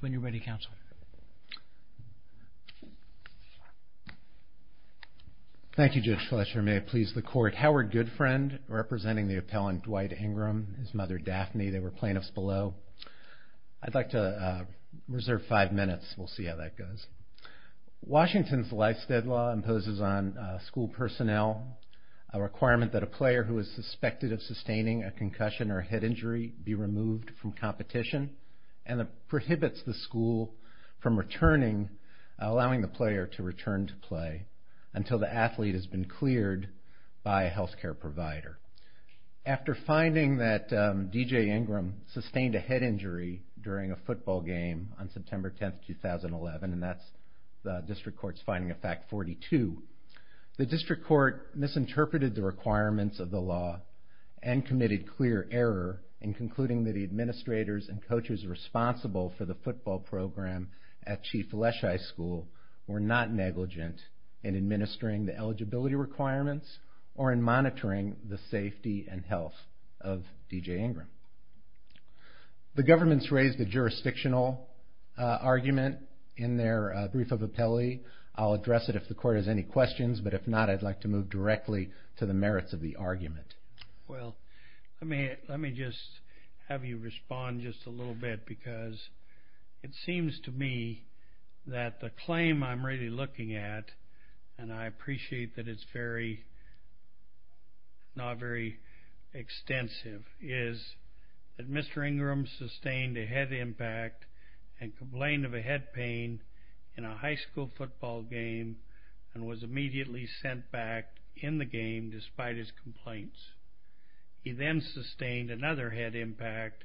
When you're ready, counsel. Thank you, Judge Fletcher. May it please the Court. Howard Goodfriend, representing the appellant Dwight Ingram, his mother Daphne, they were plaintiffs below. I'd like to reserve five minutes, we'll see how that goes. Washington's Lifestead Law imposes on school personnel a requirement that a player who and it prohibits the school from returning, allowing the player to return to play until the athlete has been cleared by a health care provider. After finding that D.J. Ingram sustained a head injury during a football game on September 10, 2011, and that's the District Court's finding of fact 42, the District Court misinterpreted the requirements of the law and committed clear error in concluding that the administrators and coaches responsible for the football program at Chief Leschi School were not negligent in administering the eligibility requirements or in monitoring the safety and health of D.J. Ingram. The government's raised a jurisdictional argument in their brief of appellee. I'll address it if the Court has any questions, but if not, I'd like to move directly to the merits of the argument. Well, let me just have you respond just a little bit because it seems to me that the claim I'm really looking at, and I appreciate that it's not very extensive, is that Mr. Ingram sustained a head impact and complained of a head pain in a high school football game and was immediately sent back in the game despite his complaints. He then sustained another head impact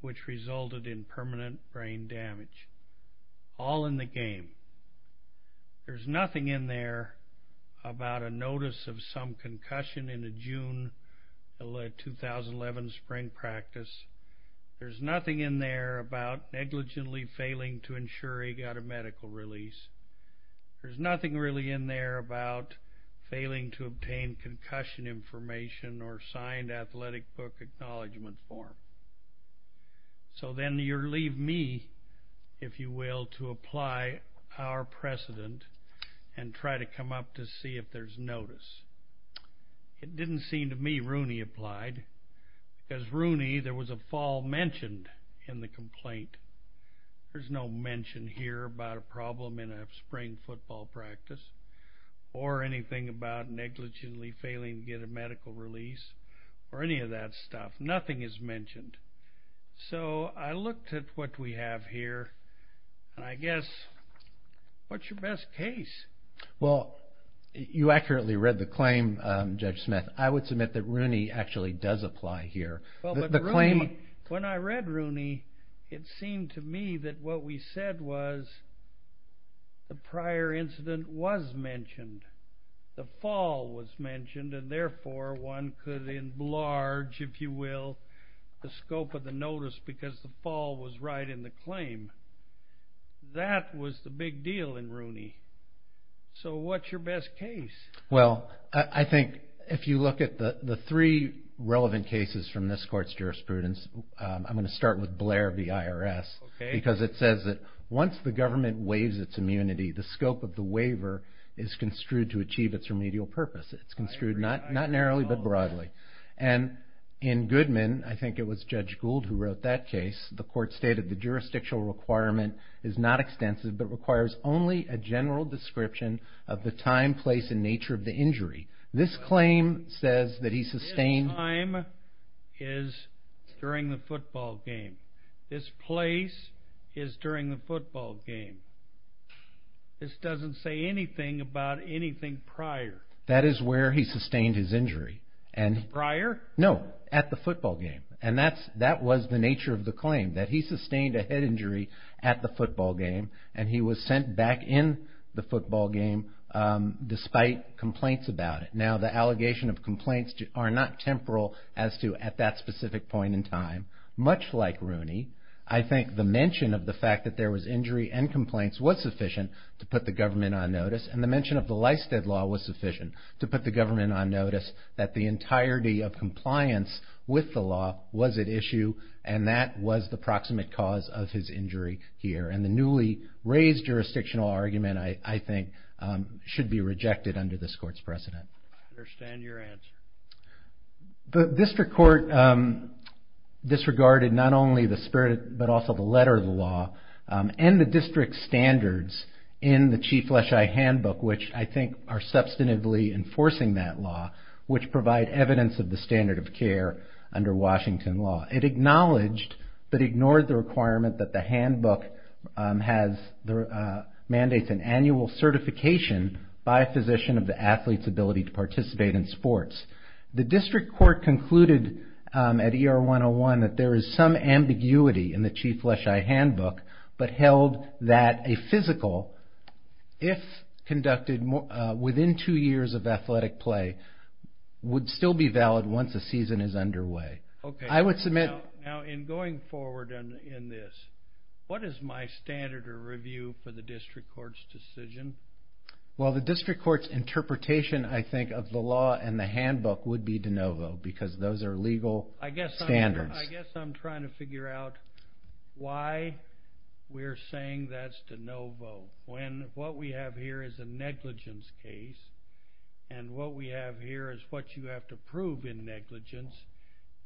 which resulted in permanent brain damage. All in the game. There's nothing in there about a notice of some concussion in a June 2011 spring practice. There's nothing in there about negligently failing to ensure he got a medical release. There's nothing really in there about failing to obtain concussion information or signed athletic book acknowledgement form. So then you'll leave me, if you will, to apply our precedent and try to come up to see if there's notice. It didn't seem to me Rooney applied because Rooney there was a fall mentioned in the complaint. There's no mention here about a problem in a spring football practice or anything about negligently failing to get a medical release or any of that stuff. Nothing is mentioned. So I looked at what we have here and I guess, what's your best case? Well, you accurately read the claim, Judge Smith. I would submit that Rooney actually does apply here. But Rooney, when I read Rooney, it seemed to me that what we said was the prior incident was mentioned. The fall was mentioned and therefore one could enlarge, if you will, the scope of the notice because the fall was right in the claim. That was the big deal in Rooney. So what's your best case? Well, I think if you look at the three relevant cases from this court's jurisprudence, I'm going to start with Blair v. IRS because it says that once the government waives its immunity, the scope of the waiver is construed to achieve its remedial purpose. It's construed not narrowly but broadly. And in Goodman, I think it was Judge Gould who wrote that case, the court stated the jurisdictional requirement is not extensive but requires only a general description of the time, place, and nature of the injury. This claim says that he sustained... This time is during the football game. This place is during the football game. This doesn't say anything about anything prior. That is where he sustained his injury. Prior? No, at the football game. And that was the nature of the claim, that he sustained a head injury at the football game and he was sent back in the football game despite complaints about it. Now the allegation of complaints are not temporal as to at that specific point in time. Much like Rooney, I think the mention of the fact that there was injury and complaints was sufficient to put the government on notice. And the mention of the Lystedt Law was sufficient to put the government on notice that the entirety of compliance with the law was at issue and that was the proximate cause of his injury here. And the newly raised jurisdictional argument, I think, should be rejected under this court's precedent. I understand your answer. The district court disregarded not only the spirit but also the letter of the law and the district standards in the Chief Leschi Handbook, which I think are substantively enforcing that law, which provide evidence of the standard of care under Washington law. It acknowledged but ignored the requirement that the handbook mandates an annual certification by a physician of the athlete's ability to participate in sports. The district court concluded at ER 101 that there is some ambiguity in the Chief Leschi Handbook but held that a physical, if conducted within two years of athletic play, would still be valid once a season is underway. I would submit... Now, in going forward in this, what is my standard or review for the district court's decision? Well, the district court's interpretation, I think, of the law and the handbook would be de novo because those are legal standards. I guess I'm trying to figure out why we're saying that's de novo when what we have here is a negligence case and what we have here is what you have to prove in negligence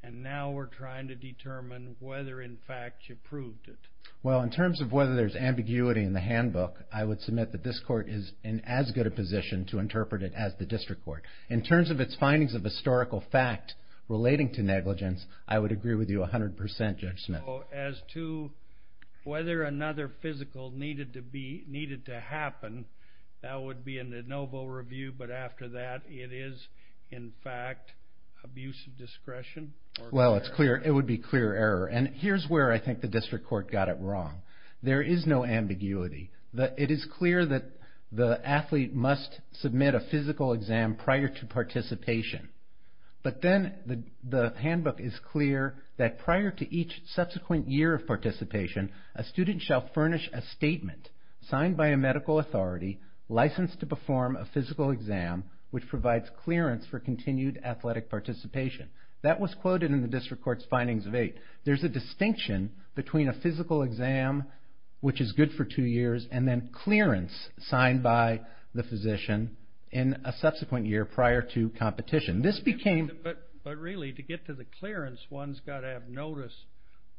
and now we're trying to determine whether, in fact, you proved it. Well, in terms of whether there's ambiguity in the handbook, I would submit that this court is in as good a position to interpret it as the district court. In terms of its findings of historical fact relating to negligence, I would agree with you 100%, Judge Smith. As to whether another physical needed to happen, that would be in de novo review, but after that it is, in fact, abuse of discretion? Well, it would be clear error. Here's where I think the district court got it wrong. There is no ambiguity. It is clear that the athlete must submit a physical exam prior to participation, but then the handbook is clear that prior to each subsequent year of participation, a student shall furnish a statement signed by a medical authority licensed to perform a physical exam which provides clearance for continued athletic participation. That was quoted in the district court's findings of eight. There's a distinction between a physical exam, which is good for two years, and then clearance signed by the physician in a subsequent year prior to competition. But really, to get to the clearance, one's got to have notice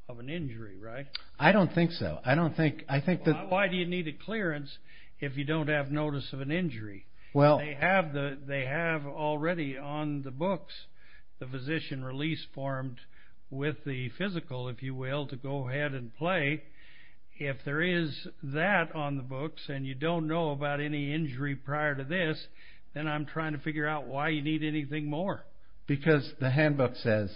of an injury, right? I don't think so. Why do you need a clearance if you don't have notice of an injury? They have already on the books the physician release formed with the physical, if you will, to go ahead and play. If there is that on the books and you don't know about any injury prior to this, then I'm trying to figure out why you need anything more. Because the handbook says,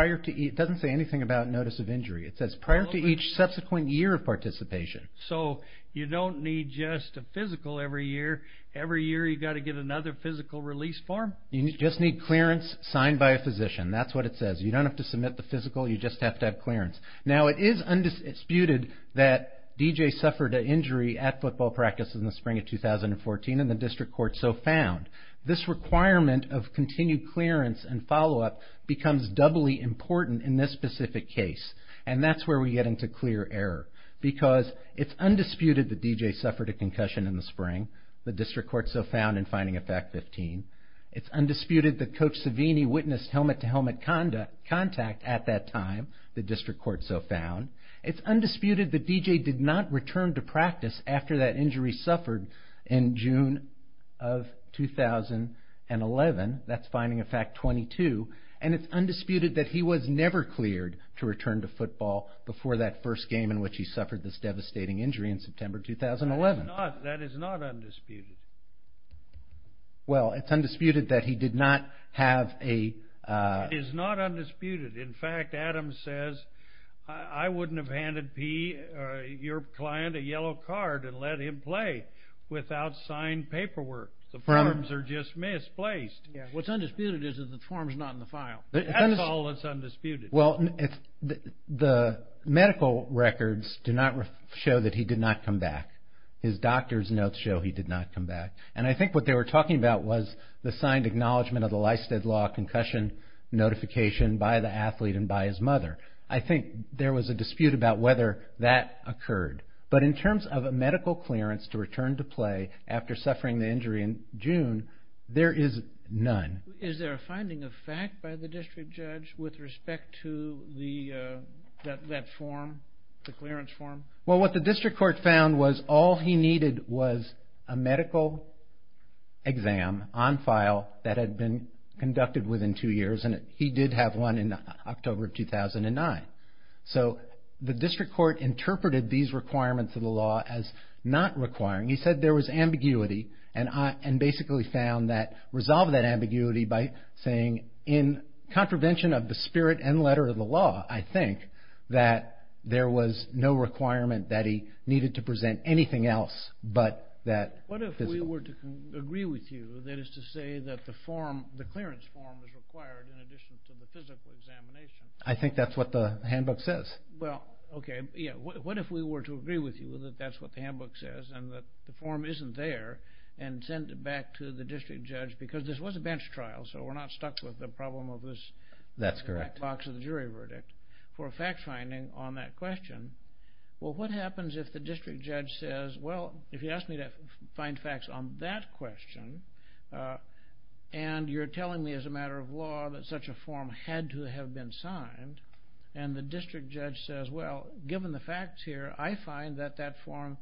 it doesn't say anything about notice of injury. It says prior to each subsequent year of participation. So you don't need just a physical every year. Every year you've got to get another physical release form? You just need clearance signed by a physician. That's what it says. You don't have to submit the physical. You just have to have clearance. Now it is undisputed that DJ suffered an injury at football practice in the spring of 2014 and the district court so found. This requirement of continued clearance and follow-up becomes doubly important in this specific case. And that's where we get into clear error. Because it's undisputed that DJ suffered a concussion in the spring, the district court so found in finding of fact 15. It's undisputed that Coach Savini witnessed helmet-to-helmet contact at that time, the district court so found. It's undisputed that DJ did not return to practice after that injury suffered in June of 2011. That's finding of fact 22. And it's undisputed that he was never cleared to return to football before that first game in which he suffered this devastating injury in September 2011. That is not undisputed. Well, it's undisputed that he did not have a... It is not undisputed. In fact, Adams says, I wouldn't have handed P, your client, a yellow card and let him play without signed paperwork. The forms are just misplaced. What's undisputed is that the form's not in the file. That's all that's undisputed. Well, the medical records do not show that he did not come back. His doctor's notes show he did not come back. And I think what they were talking about was the signed acknowledgment of the Lystedt concussion notification by the athlete and by his mother. I think there was a dispute about whether that occurred. But in terms of a medical clearance to return to play after suffering the injury in June, there is none. Is there a finding of fact by the district judge with respect to that form, the clearance form? Well, what the district court found was all he needed was a medical exam on file that had been conducted within two years. And he did have one in October of 2009. So the district court interpreted these requirements of the law as not requiring. He said there was ambiguity and basically found that, resolved that ambiguity by saying, in contravention of the spirit and letter of the law, I think that there was no requirement that he needed to present anything else but that physical. If we were to agree with you, that is to say that the form, the clearance form is required in addition to the physical examination. I think that's what the handbook says. Well, OK. What if we were to agree with you that that's what the handbook says and that the form isn't there and send it back to the district judge? Because this was a bench trial, so we're not stuck with the problem of this. That's correct. Box of the jury verdict for a fact finding on that question. Well, what happens if the district judge says, well, if you ask me to find facts on that question and you're telling me as a matter of law that such a form had to have been signed and the district judge says, well, given the facts here, I find that that form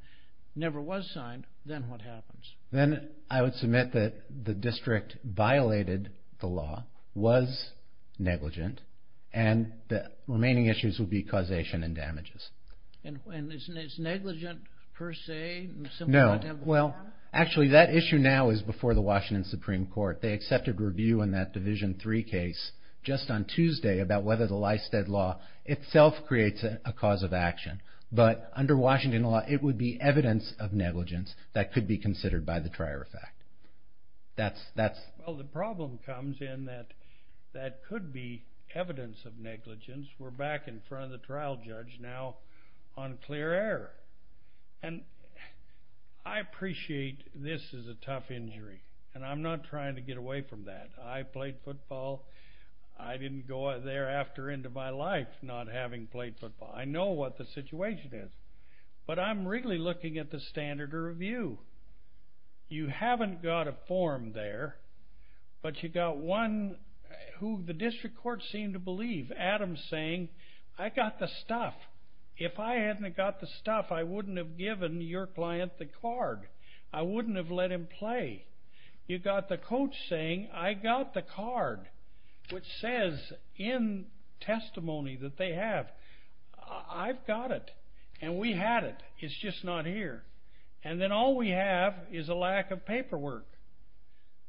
never was signed, then what happens? Then I would submit that the district violated the law, was negligent, and the remaining issues would be causation and damages. And isn't this negligent per se? No. Well, actually, that issue now is before the Washington Supreme Court. They accepted review in that Division III case just on Tuesday about whether the Lystedt law itself creates a cause of action. But under Washington law, it would be evidence of negligence that could be considered by the trier effect. Well, the problem comes in that that could be evidence of negligence. We're back in front of the trial judge now on clear air. And I appreciate this is a tough injury. And I'm not trying to get away from that. I played football. I didn't go thereafter into my life not having played football. I know what the situation is. But I'm really looking at the standard of review. You haven't got a form there. But you got one who the district court seemed to believe. Adam's saying, I got the stuff. If I hadn't got the stuff, I wouldn't have given your client the card. I wouldn't have let him play. You got the coach saying, I got the card, which says in testimony that they have. I've got it. And we had it. It's just not here. And then all we have is a lack of paperwork.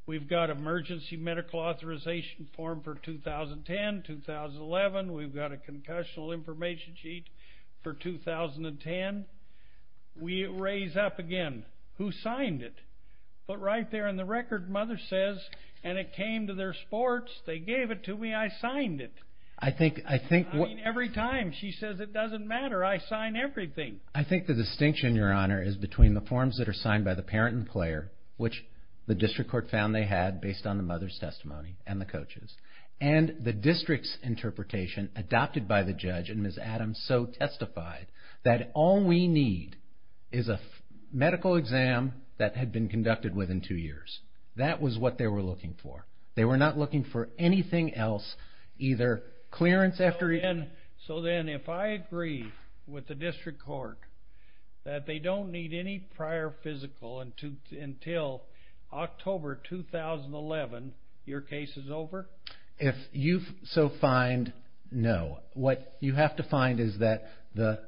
We've got emergency medical authorization form for 2010, 2011. We've got a concussional information sheet for 2010. We raise up again. Who signed it? But right there in the record, mother says, and it came to their sports. They gave it to me. I signed it. I think I think every time she says it doesn't matter. I sign everything. I think the distinction, your honor, is between the forms that are signed by the parent and player, which the district court found they had based on the mother's testimony and the coaches and the district's interpretation adopted by the judge. And Ms. Adams so testified that all we need is a medical exam that had been conducted within two years. That was what they were looking for. They were not looking for anything else, either clearance after. So then if I agree with the district court that they don't need any prior physical until October 2011, your case is over? If you so find, no. What you have to find is that the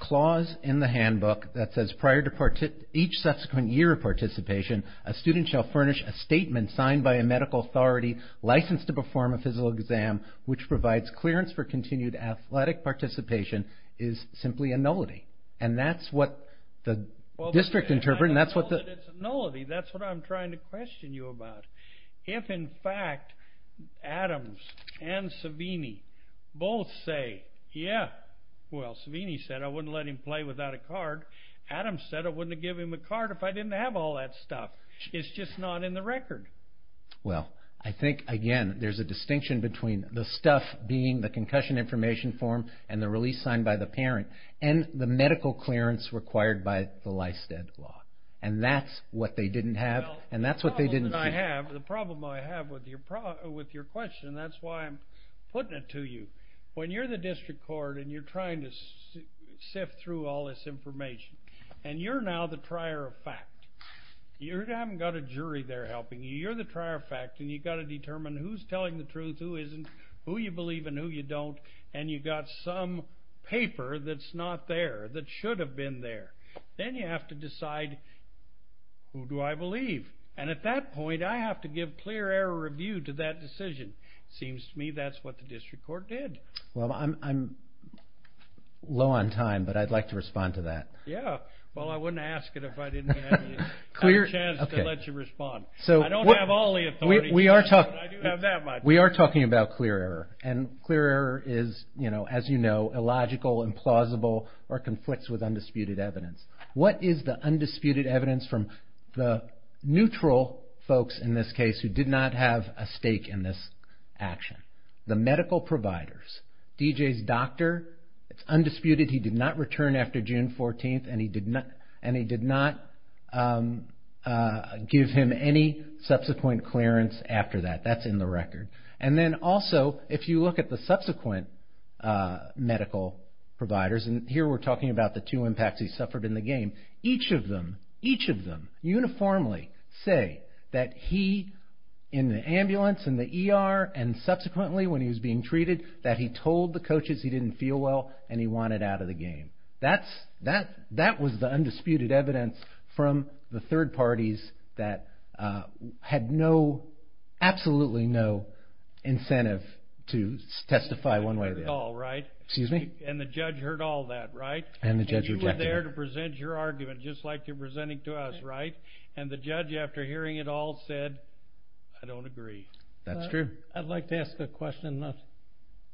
clause in the handbook that says prior to each subsequent year of participation, a student shall furnish a statement signed by a medical authority licensed to perform a physical exam which provides clearance for continued athletic participation is simply a nullity. And that's what the district interpreted. Well, I know that it's a nullity. That's what I'm trying to question you about. If, in fact, Adams and Savini both say, yeah, well, Savini said I wouldn't let him play without a card. Adams said I wouldn't have given him a card if I didn't have all that stuff. It's just not in the record. Well, I think, again, there's a distinction between the stuff being the concussion information form and the release signed by the parent and the medical clearance required by the Lystedt law. And that's what they didn't have. And that's what they didn't see. The problem I have with your question, that's why I'm putting it to you. When you're the district court and you're trying to sift through all this information and you're now the prior of fact, you haven't got a jury there helping you. You're the prior of fact, and you've got to determine who's telling the truth, who isn't, who you believe and who you don't. And you've got some paper that's not there, that should have been there. Then you have to decide, who do I believe? And at that point, I have to give clear error review to that decision. It seems to me that's what the district court did. Well, I'm low on time, but I'd like to respond to that. Yeah. Well, I wouldn't ask it if I didn't have a chance to let you respond. I don't have all the authority. We are talking about clear error. And clear error is, as you know, illogical, implausible, or conflicts with undisputed evidence. What is the undisputed evidence from the neutral folks in this case who did not have a stake in this action? The medical providers, DJ's doctor, it's undisputed he did not return after June 14th, and he did not give him any subsequent clearance after that. That's in the record. And then also, if you look at the subsequent medical providers, and here we're talking about the two impacts he suffered in the game. Each of them, each of them uniformly say that he, in the ambulance, in the ER, and subsequently when he was being treated, that he told the coaches he didn't feel well and he wanted out of the game. That's, that, that was the undisputed evidence from the third parties that had no, absolutely no incentive to testify one way or the other. All right. Excuse me. And the judge heard all that, right? And the judge rejected it. And you were there to present your argument, just like you're presenting to us, right? And the judge, after hearing it all, said, I don't agree. That's true. I'd like to ask a question, if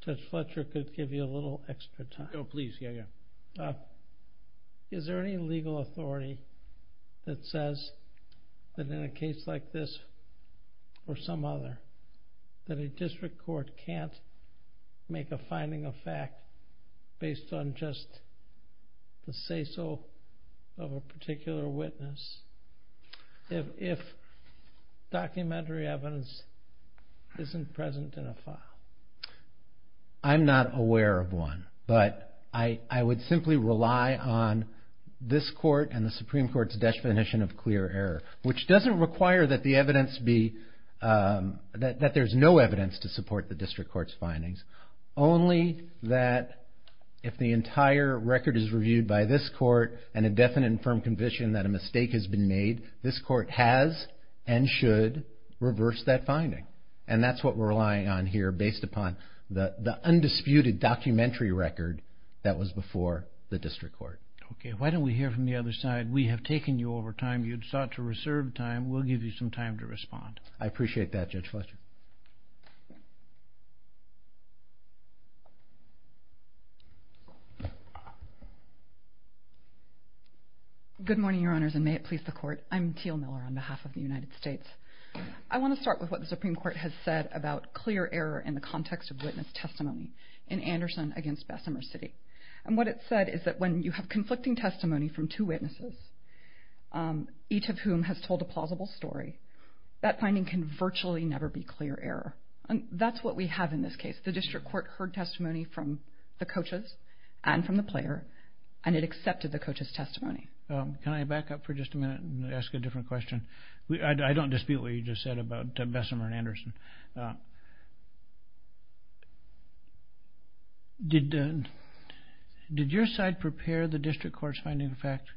Judge Fletcher could give you a little extra time. Oh, please, yeah, yeah. Is there any legal authority that says that in a case like this, or some other, that a district court can't make a finding of fact based on just the say-so of a particular witness, if, if documentary evidence isn't present in a file? I'm not aware of one, but I, I would simply rely on this court and the Supreme Court's definition of clear error, which doesn't require that the evidence be, that, that there's no evidence to support the district court's findings. Only that if the entire record is reviewed by this court and a definite and firm conviction that a mistake has been made, this court has and should reverse that finding. And that's what we're relying on here, based upon the, the undisputed documentary record that was before the district court. Okay. Why don't we hear from the other side? We have taken you over time. You'd sought to reserve time. We'll give you some time to respond. I appreciate that, Judge Fletcher. Good morning, Your Honors, and may it please the court. I'm Teal Miller on behalf of the United States. I want to start with what the Supreme Court has said about clear error in the context of witness testimony in Anderson against Bessemer City. And what it said is that when you have conflicting testimony from two witnesses, each of whom has told a plausible story, that finding can virtually never be clear error. And that's what we have in this case. The district court heard testimony from the coaches and from the player, and it accepted the coaches' testimony. Can I back up for just a minute and ask a different question? I don't dispute what you just said about Bessemer and Anderson. Did your side prepare the district court's finding of fact?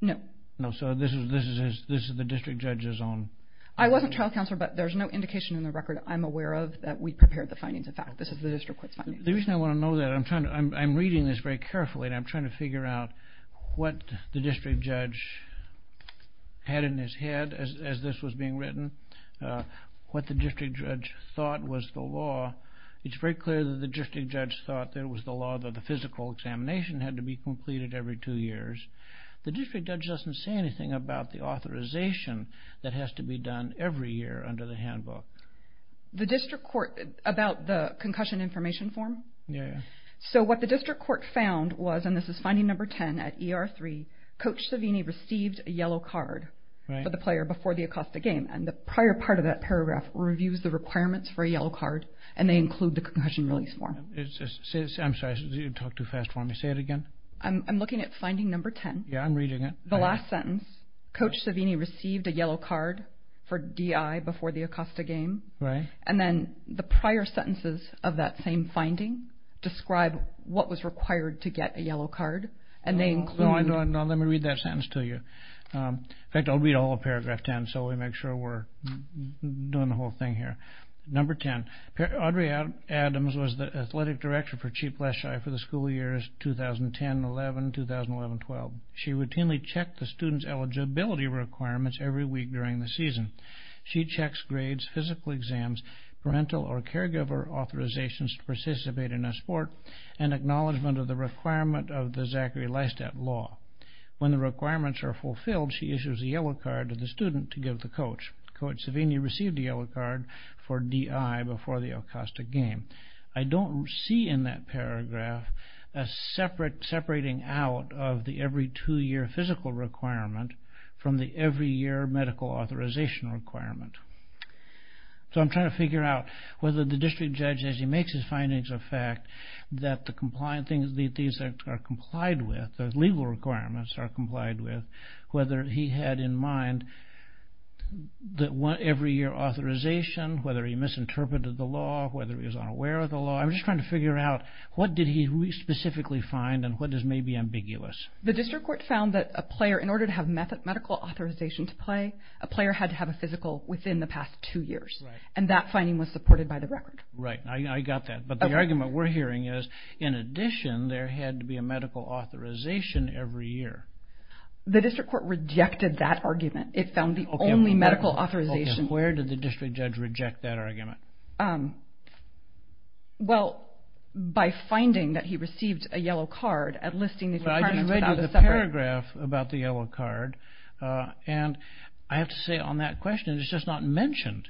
No. No. So this is the district judge's own? I wasn't trial counselor, but there's no indication in the record I'm aware of that we prepared the findings of fact. This is the district court's finding. The reason I want to know that, I'm reading this very carefully, and I'm trying to figure out what the district judge had in his head as this was being written, what the district judge thought was the law. It's very clear that the district judge thought that it was the law that the physical examination had to be completed every two years. The district judge doesn't say anything about the authorization that has to be done every year under the handbook. The district court, about the concussion information form? Yeah. So what the district court found was, and this is finding number 10 at ER3, Coach Savini received a yellow card for the player before the Acosta game, and the prior part of that paragraph reviews the requirements for a yellow card, and they include the concussion release form. I'm sorry, you talk too fast for me. Say it again. I'm looking at finding number 10. Yeah, I'm reading it. The last sentence, Coach Savini received a yellow card for DI before the Acosta game, and then the prior sentences of that same finding describe what was required to get a yellow card, and they include... No, no, no, let me read that sentence to you. In fact, I'll read all of paragraph 10, so we make sure we're doing the whole thing here. Number 10, Audrey Adams was the athletic director for Chief Leschi for the school years 2010, 11, 2011, 12. She routinely checked the students' eligibility requirements every week during the season. She checks grades, physical exams, parental or caregiver authorizations to participate in a sport, and acknowledgement of the requirement of the Zachary Lysdat law. When the requirements are fulfilled, she issues a yellow card to the student to give the coach. Coach Savini received a yellow card for DI before the Acosta game. I don't see in that paragraph a separating out of the every two-year physical requirement from the every year medical authorization requirement. So I'm trying to figure out whether the district judge, as he makes his findings of fact, that the compliant things, these are complied with, those legal requirements are complied with, whether he had in mind the every year authorization, whether he misinterpreted the law, whether he was unaware of the law. I'm just trying to figure out what did he specifically find, and what is maybe ambiguous. The district court found that a player, in order to have medical authorization to play, a player had to have a physical within the past two years, and that finding was supported by the record. Right, I got that, but the argument we're hearing is, in addition, there had to be a medical authorization every year. The district court rejected that argument. It found the only medical authorization. Where did the district judge reject that argument? Well, by finding that he received a yellow card at listing these requirements. I read a paragraph about the yellow card, and I have to say on that question, it's just not mentioned.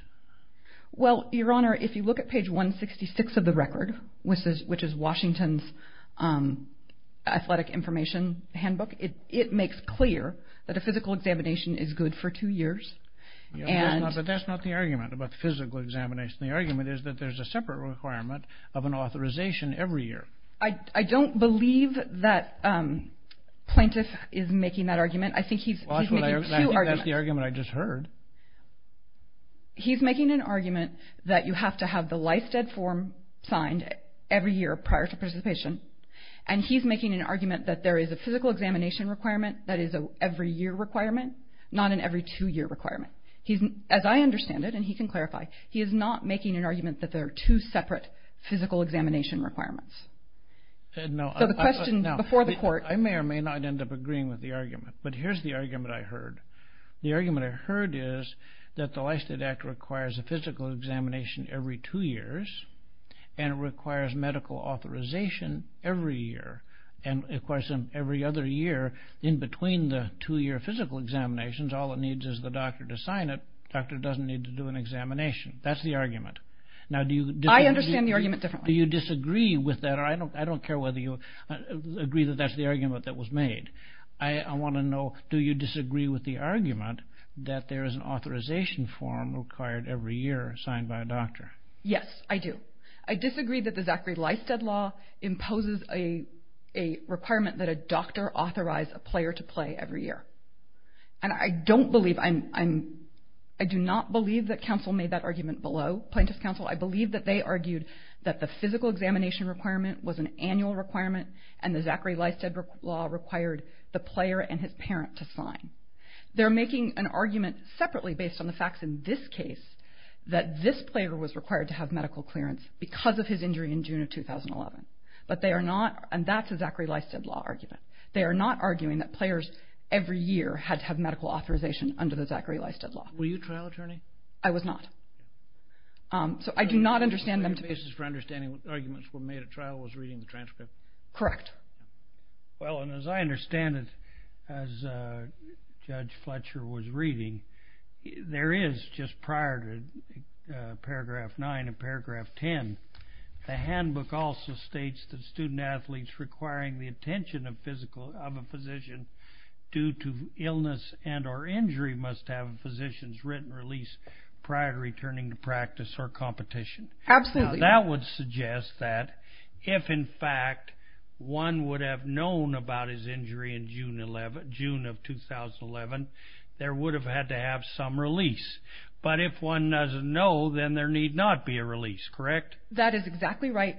Well, your honor, if you look at page 166 of the record, which is Washington's athletic information handbook, it makes clear that a physical examination is good for two years. But that's not the argument about the physical examination. The argument is that there's a separate requirement of an authorization every year. I don't believe that plaintiff is making that argument. I think he's making two arguments. Well, I think that's the argument I just heard. He's making an argument that you have to have the life-dead form signed every year prior to participation, and he's making an argument that there is a physical examination requirement that is an every-year requirement, not an every-two-year requirement. As I understand it, and he can clarify, he is not making an argument that there are two separate physical examination requirements. So the question before the court... I may or may not end up agreeing with the argument, but here's the argument I heard. The argument I heard is that the Life-Dead Act requires a physical examination every two years, and it requires medical authorization every year. And, of course, every other year in between the two-year physical examinations, all it needs is the doctor to sign it. Doctor doesn't need to do an examination. That's the argument. Now, do you... I understand the argument differently. Do you disagree with that? Or I don't care whether you agree that that's the argument that was made. I want to know, do you disagree with the argument that there is an authorization form required every year signed by a doctor? Yes, I do. I disagree that the Zachary Lifestead Law imposes a requirement that a doctor authorize a player to play every year. And I don't believe... I do not believe that counsel made that argument below plaintiff's counsel. I believe that they argued that the physical examination requirement was an annual requirement, and the Zachary Lifestead Law required the player and his parent to sign. They're making an argument separately based on the facts in this case that this player was required to have medical clearance because of his injury in June of 2011. But they are not... And that's a Zachary Lifestead Law argument. They are not arguing that players every year had to have medical authorization under the Zachary Lifestead Law. Were you a trial attorney? I was not. So, I do not understand them... The basis for understanding what arguments were made at trial was reading the transcript? Correct. Well, and as I understand it, as Judge Fletcher was reading, there is, just prior to paragraph 9 and paragraph 10, the handbook also states that student-athletes requiring the attention of a physician due to illness and or injury must have a physician's written release prior to returning to practice or competition. Absolutely. That would suggest that if, in fact, one would have known about his injury in June of 2011, there would have had to have some release. But if one doesn't know, then there need not be a release, correct? That is exactly right,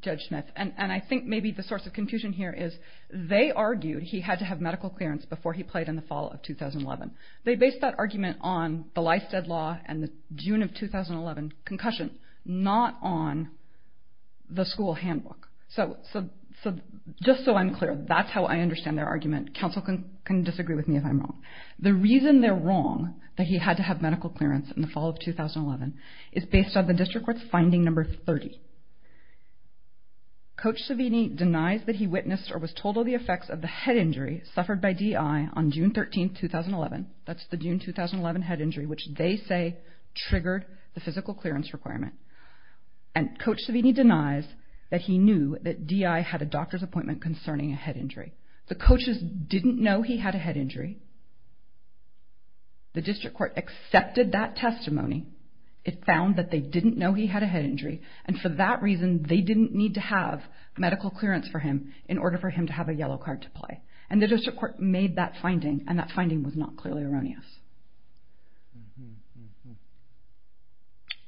Judge Smith. And I think maybe the source of confusion here is they argued he had to have medical clearance before he played in the fall of 2011. They based that argument on the Lifestead Law and the June of 2011 concussion, not on the school handbook. Just so I'm clear, that's how I understand their argument. Counsel can disagree with me if I'm wrong. The reason they're wrong, that he had to have medical clearance in the fall of 2011, is based on the District Court's finding number 30. Coach Savini denies that he witnessed or was told of the effects of the head injury suffered by DI on June 13, 2011. That's the June 2011 head injury, which they say triggered the physical clearance requirement. And Coach Savini denies that he knew that DI had a doctor's appointment concerning a head injury. The coaches didn't know he had a head injury. The District Court accepted that testimony. It found that they didn't know he had a head injury. And for that reason, they didn't need to have medical clearance for him in order for him to have a yellow card to play. And the District Court made that finding, and that finding was not clearly erroneous.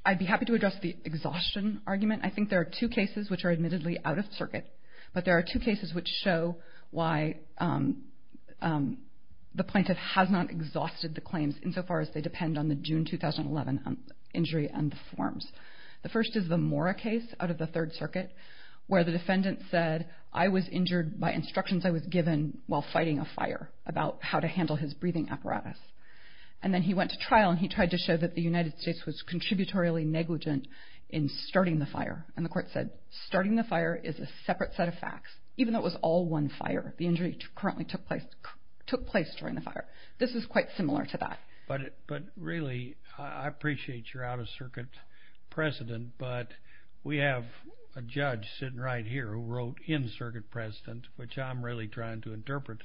I'd be happy to address the exhaustion argument. I think there are two cases which are admittedly out of circuit. But there are two cases which show why the plaintiff has not exhausted the claims insofar as they depend on the June 2011 injury and the forms. The first is the Mora case out of the Third Circuit where the defendant said, I was injured by instructions I was given while fighting a fire about how to handle his breathing apparatus. And then he went to trial and he tried to show that the United States was contributorily negligent in starting the fire. And the court said, starting the fire is a separate set of facts. Even though it was all one fire, the injury currently took place during the fire. This is quite similar to that. But really, I appreciate your out-of-circuit precedent. But we have a judge sitting right here who wrote in circuit precedent, which I'm really trying to interpret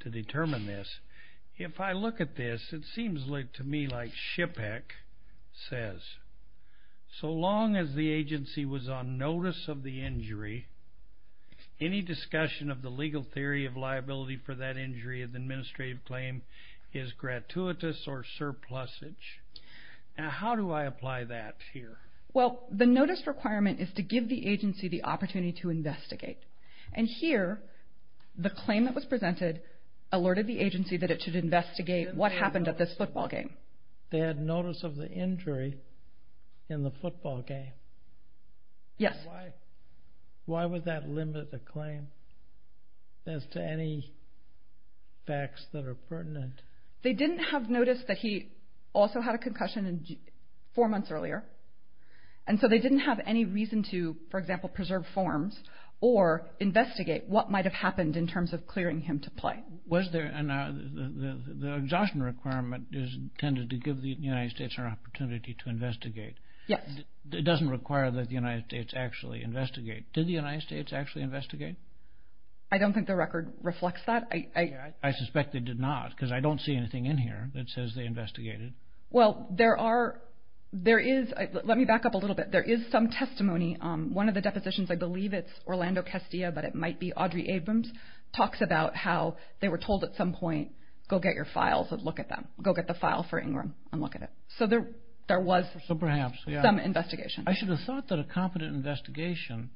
to determine this. If I look at this, it seems to me like Shippeck says, so long as the agency was on notice of the injury, any discussion of the legal theory of liability for that injury of the administrative claim is gratuitous or surplusage. Now, how do I apply that here? Well, the notice requirement is to give the agency the opportunity to investigate. And here, the claim that was presented alerted the agency that it should investigate what happened at this football game. They had notice of the injury in the football game? Yes. Why would that limit the claim as to any facts that are pertinent? They didn't have notice that he also had a concussion four months earlier. And so they didn't have any reason to, for example, preserve forms or investigate what might have happened in terms of clearing him to play. The exhaustion requirement is intended to give the United States an opportunity to investigate. Yes. It doesn't require that the United States actually investigate. Did the United States actually investigate? I don't think the record reflects that. I suspect they did not because I don't see anything in here that says they investigated. Well, there are, there is, let me back up a little bit. There is some testimony. One of the depositions, I believe it's Orlando Castilla, but it might be Audrey Abrams, talks about how they were told at some point, go get your files and look at them. Go get the file for Ingram and look at it. There was perhaps some investigation. I should have thought that a competent investigation,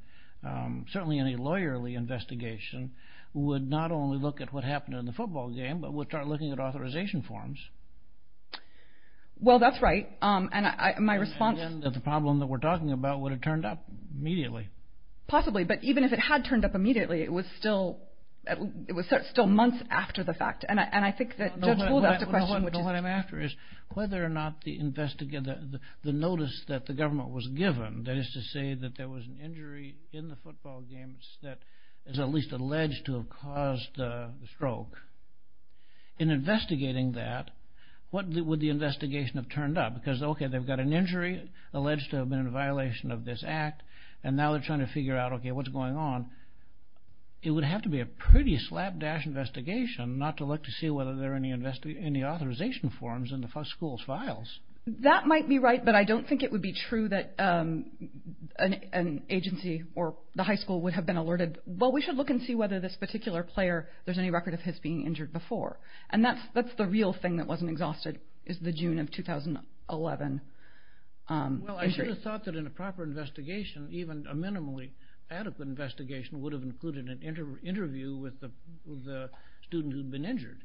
certainly in a lawyerly investigation, would not only look at what happened in the football game, but would start looking at authorization forms. Well, that's right. My response. The problem that we're talking about would have turned up immediately. Possibly, but even if it had turned up immediately, it was still months after the fact. And I think that that's the question. What I'm after is whether or not the notice that the government was given, that is to say that there was an injury in the football games that is at least alleged to have caused the stroke. In investigating that, what would the investigation have turned up? Because, okay, they've got an injury alleged to have been in violation of this act, and now they're trying to figure out, okay, what's going on. It would have to be a pretty slapdash investigation not to look to see whether there are any authorization forms in the school's files. That might be right, but I don't think it would be true that an agency or the high school would have been alerted. Well, we should look and see whether this particular player, there's any record of his being injured before. And that's the real thing that wasn't exhausted is the June of 2011 injury. Well, I should have thought that in a proper investigation, even a minimally adequate investigation, would have included an interview with the student who'd been injured.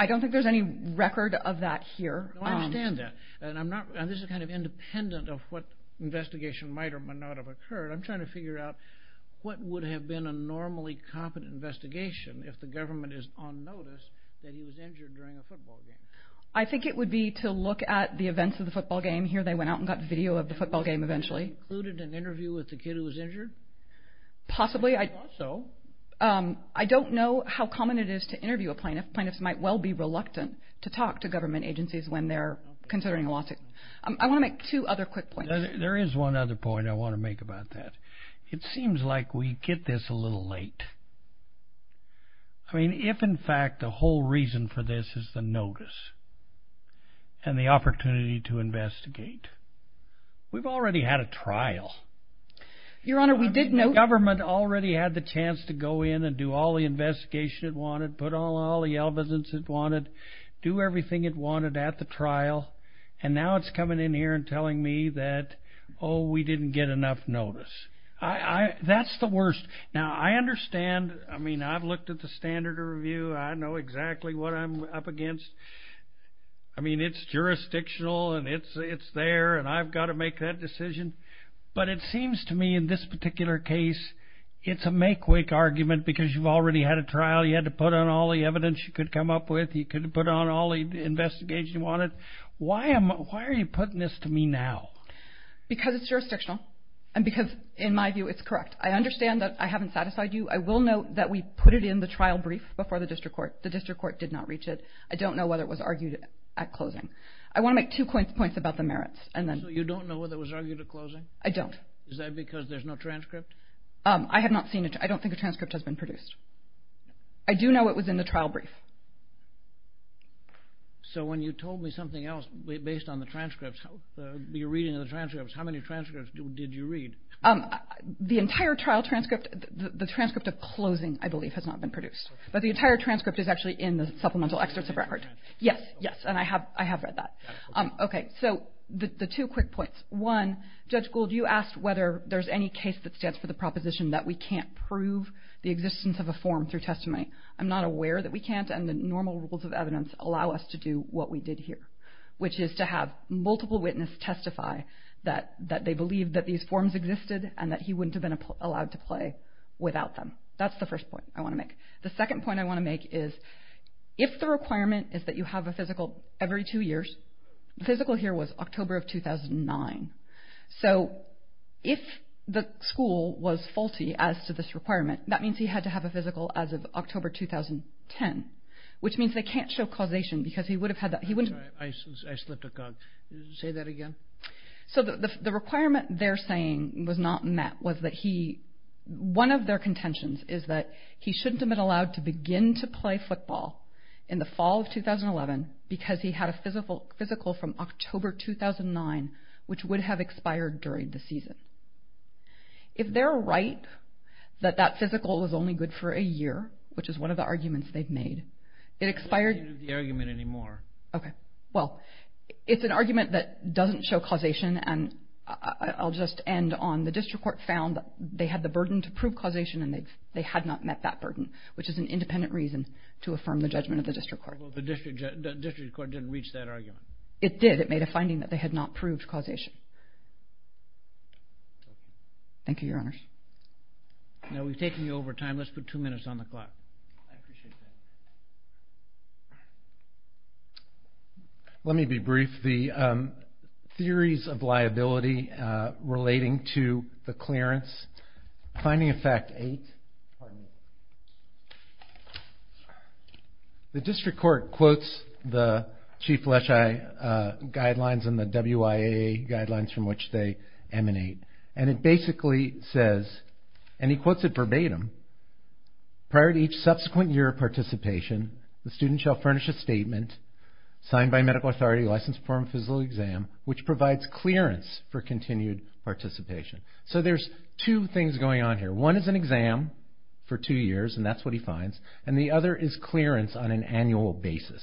I don't think there's any record of that here. No, I understand that. And I'm not, this is kind of independent of what investigation might or might not have occurred. I'm trying to figure out what would have been a normally competent investigation if the government is on notice that he was injured during a football game. I think it would be to look at the events of the football game here. They went out and got video of the football game eventually. Included an interview with the kid who was injured? Possibly. I don't know how common it is to interview a plaintiff. Plaintiffs might well be reluctant to talk to government agencies when they're considering a lawsuit. I want to make two other quick points. There is one other point I want to make about that. It seems like we get this a little late. I mean, if in fact the whole reason for this is the notice and the opportunity to investigate, we've already had a trial. Your Honor, we did note... Government already had the chance to go in and do all the investigation it wanted, put all the L visits it wanted, do everything it wanted at the trial. And now it's coming in here and telling me that, oh, we didn't get enough notice. That's the worst. Now, I understand. I mean, I've looked at the standard of review. I know exactly what I'm up against. I mean, it's jurisdictional and it's there, and I've got to make that decision. But it seems to me in this particular case, it's a make-quick argument because you've already had a trial. You had to put on all the evidence you could come up with. You couldn't put on all the investigation you wanted. Why are you putting this to me now? Because it's jurisdictional. And because in my view, it's correct. I understand that I haven't satisfied you. I will note that we put it in the trial brief before the district court. The district court did not reach it. I don't know whether it was argued at closing. I want to make two points about the merits. So you don't know whether it was argued at closing? I don't. Is that because there's no transcript? I have not seen it. I don't think a transcript has been produced. I do know it was in the trial brief. So when you told me something else based on the transcripts, your reading of the transcripts, how many transcripts did you read? The entire trial transcript, the transcript of closing, I believe, has not been produced. But the entire transcript is actually in the supplemental excerpts of record. Yes, yes. And I have read that. Okay. So the two quick points. One, Judge Gould, you asked whether there's any case that stands for the proposition that we can't prove the existence of a form through testimony. I'm not aware that we can't. And the normal rules of evidence allow us to do what we did here, which is to have multiple witnesses testify that they believe that these forms existed and that he wouldn't have been allowed to play without them. That's the first point I want to make. The second point I want to make is, if the requirement is that you have a physical every two years, the physical here was October of 2009. So if the school was faulty as to this requirement, that means he had to have a physical as of October 2010, which means they can't show causation because he would have had that. I slipped a cog. Say that again. So the requirement they're saying was not met, was that he, one of their contentions is that he shouldn't have been allowed to begin to play football in the fall of 2011 because he had a physical from October 2009, which would have expired during the season. If they're right that that physical was only good for a year, which is one of the arguments they've made, it expired. We don't need the argument anymore. Okay. Well, it's an argument that doesn't show causation. And I'll just end on the district court found they had the burden to prove causation and they had not met that burden, which is an independent reason to affirm the judgment of the district court. Well, the district court didn't reach that argument. It did. It made a finding that they had not proved causation. Thank you, your honors. Now we've taken you over time. Let's put two minutes on the clock. I appreciate that. Let me be brief. The theories of liability relating to the clearance, finding of fact eight. The district court quotes the chief Leschi guidelines and the WIAA guidelines from which they emanate. And it basically says, and he quotes it verbatim, prior to each subsequent year of participation, the student shall furnish a statement signed by medical authority, license form, physical exam, which provides clearance for continued participation. So there's two things going on here. One is an exam for two years, and that's what he finds. And the other is clearance on an annual basis.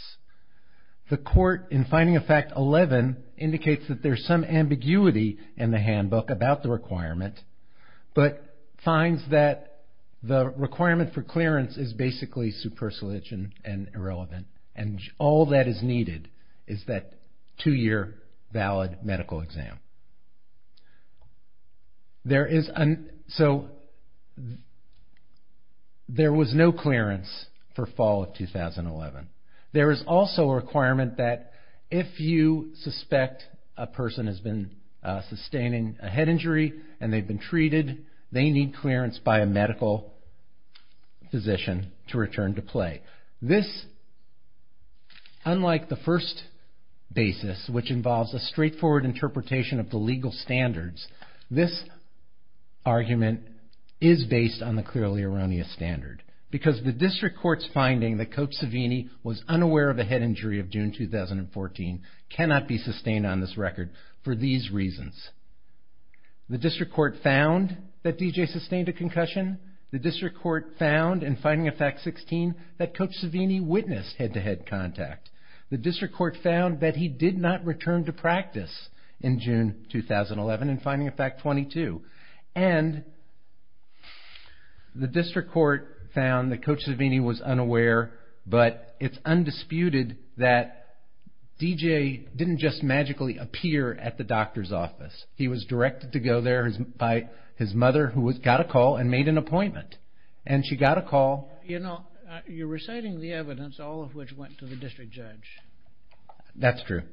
The court in finding of fact 11 indicates that there's some ambiguity in the handbook about the requirement, but finds that the requirement for clearance is basically supersedition and irrelevant. And all that is needed is that two-year valid medical exam. There is, so there was no clearance for fall of 2011. There is also a requirement that if you suspect a person has been sustaining a head injury and they've been treated, they need clearance by a medical physician to return to play. This, unlike the first basis, which involves a straightforward interpretation of the legal standards, this argument is based on the clearly erroneous standard. Because the district court's finding that Coach Savini was unaware of a head injury of June 2014 cannot be sustained on this record for these reasons. The district court found that DJ sustained a concussion. The district court found in finding of fact 16 that Coach Savini witnessed head-to-head contact. The district court found that he did not return to practice in June 2011 in finding of fact 22. And the district court found that Coach Savini was unaware, but it's undisputed that DJ didn't just magically appear at the doctor's office. He was directed to go there by his mother who got a call and made an appointment. And she got a call. You know, you're reciting the evidence, all of which went to the district judge. That's true.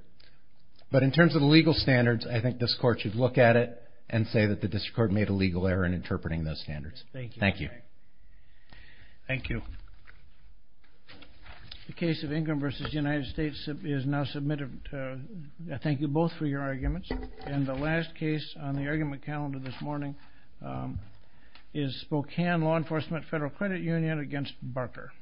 But in terms of the legal standards, I think this court should look at it and say that the district court made a legal error in interpreting those standards. Thank you. Thank you. The case of Ingram v. United States is now submitted. Thank you both for your arguments. And the last case on the argument calendar this morning is Spokane Law Enforcement Federal Credit Union v. Barker.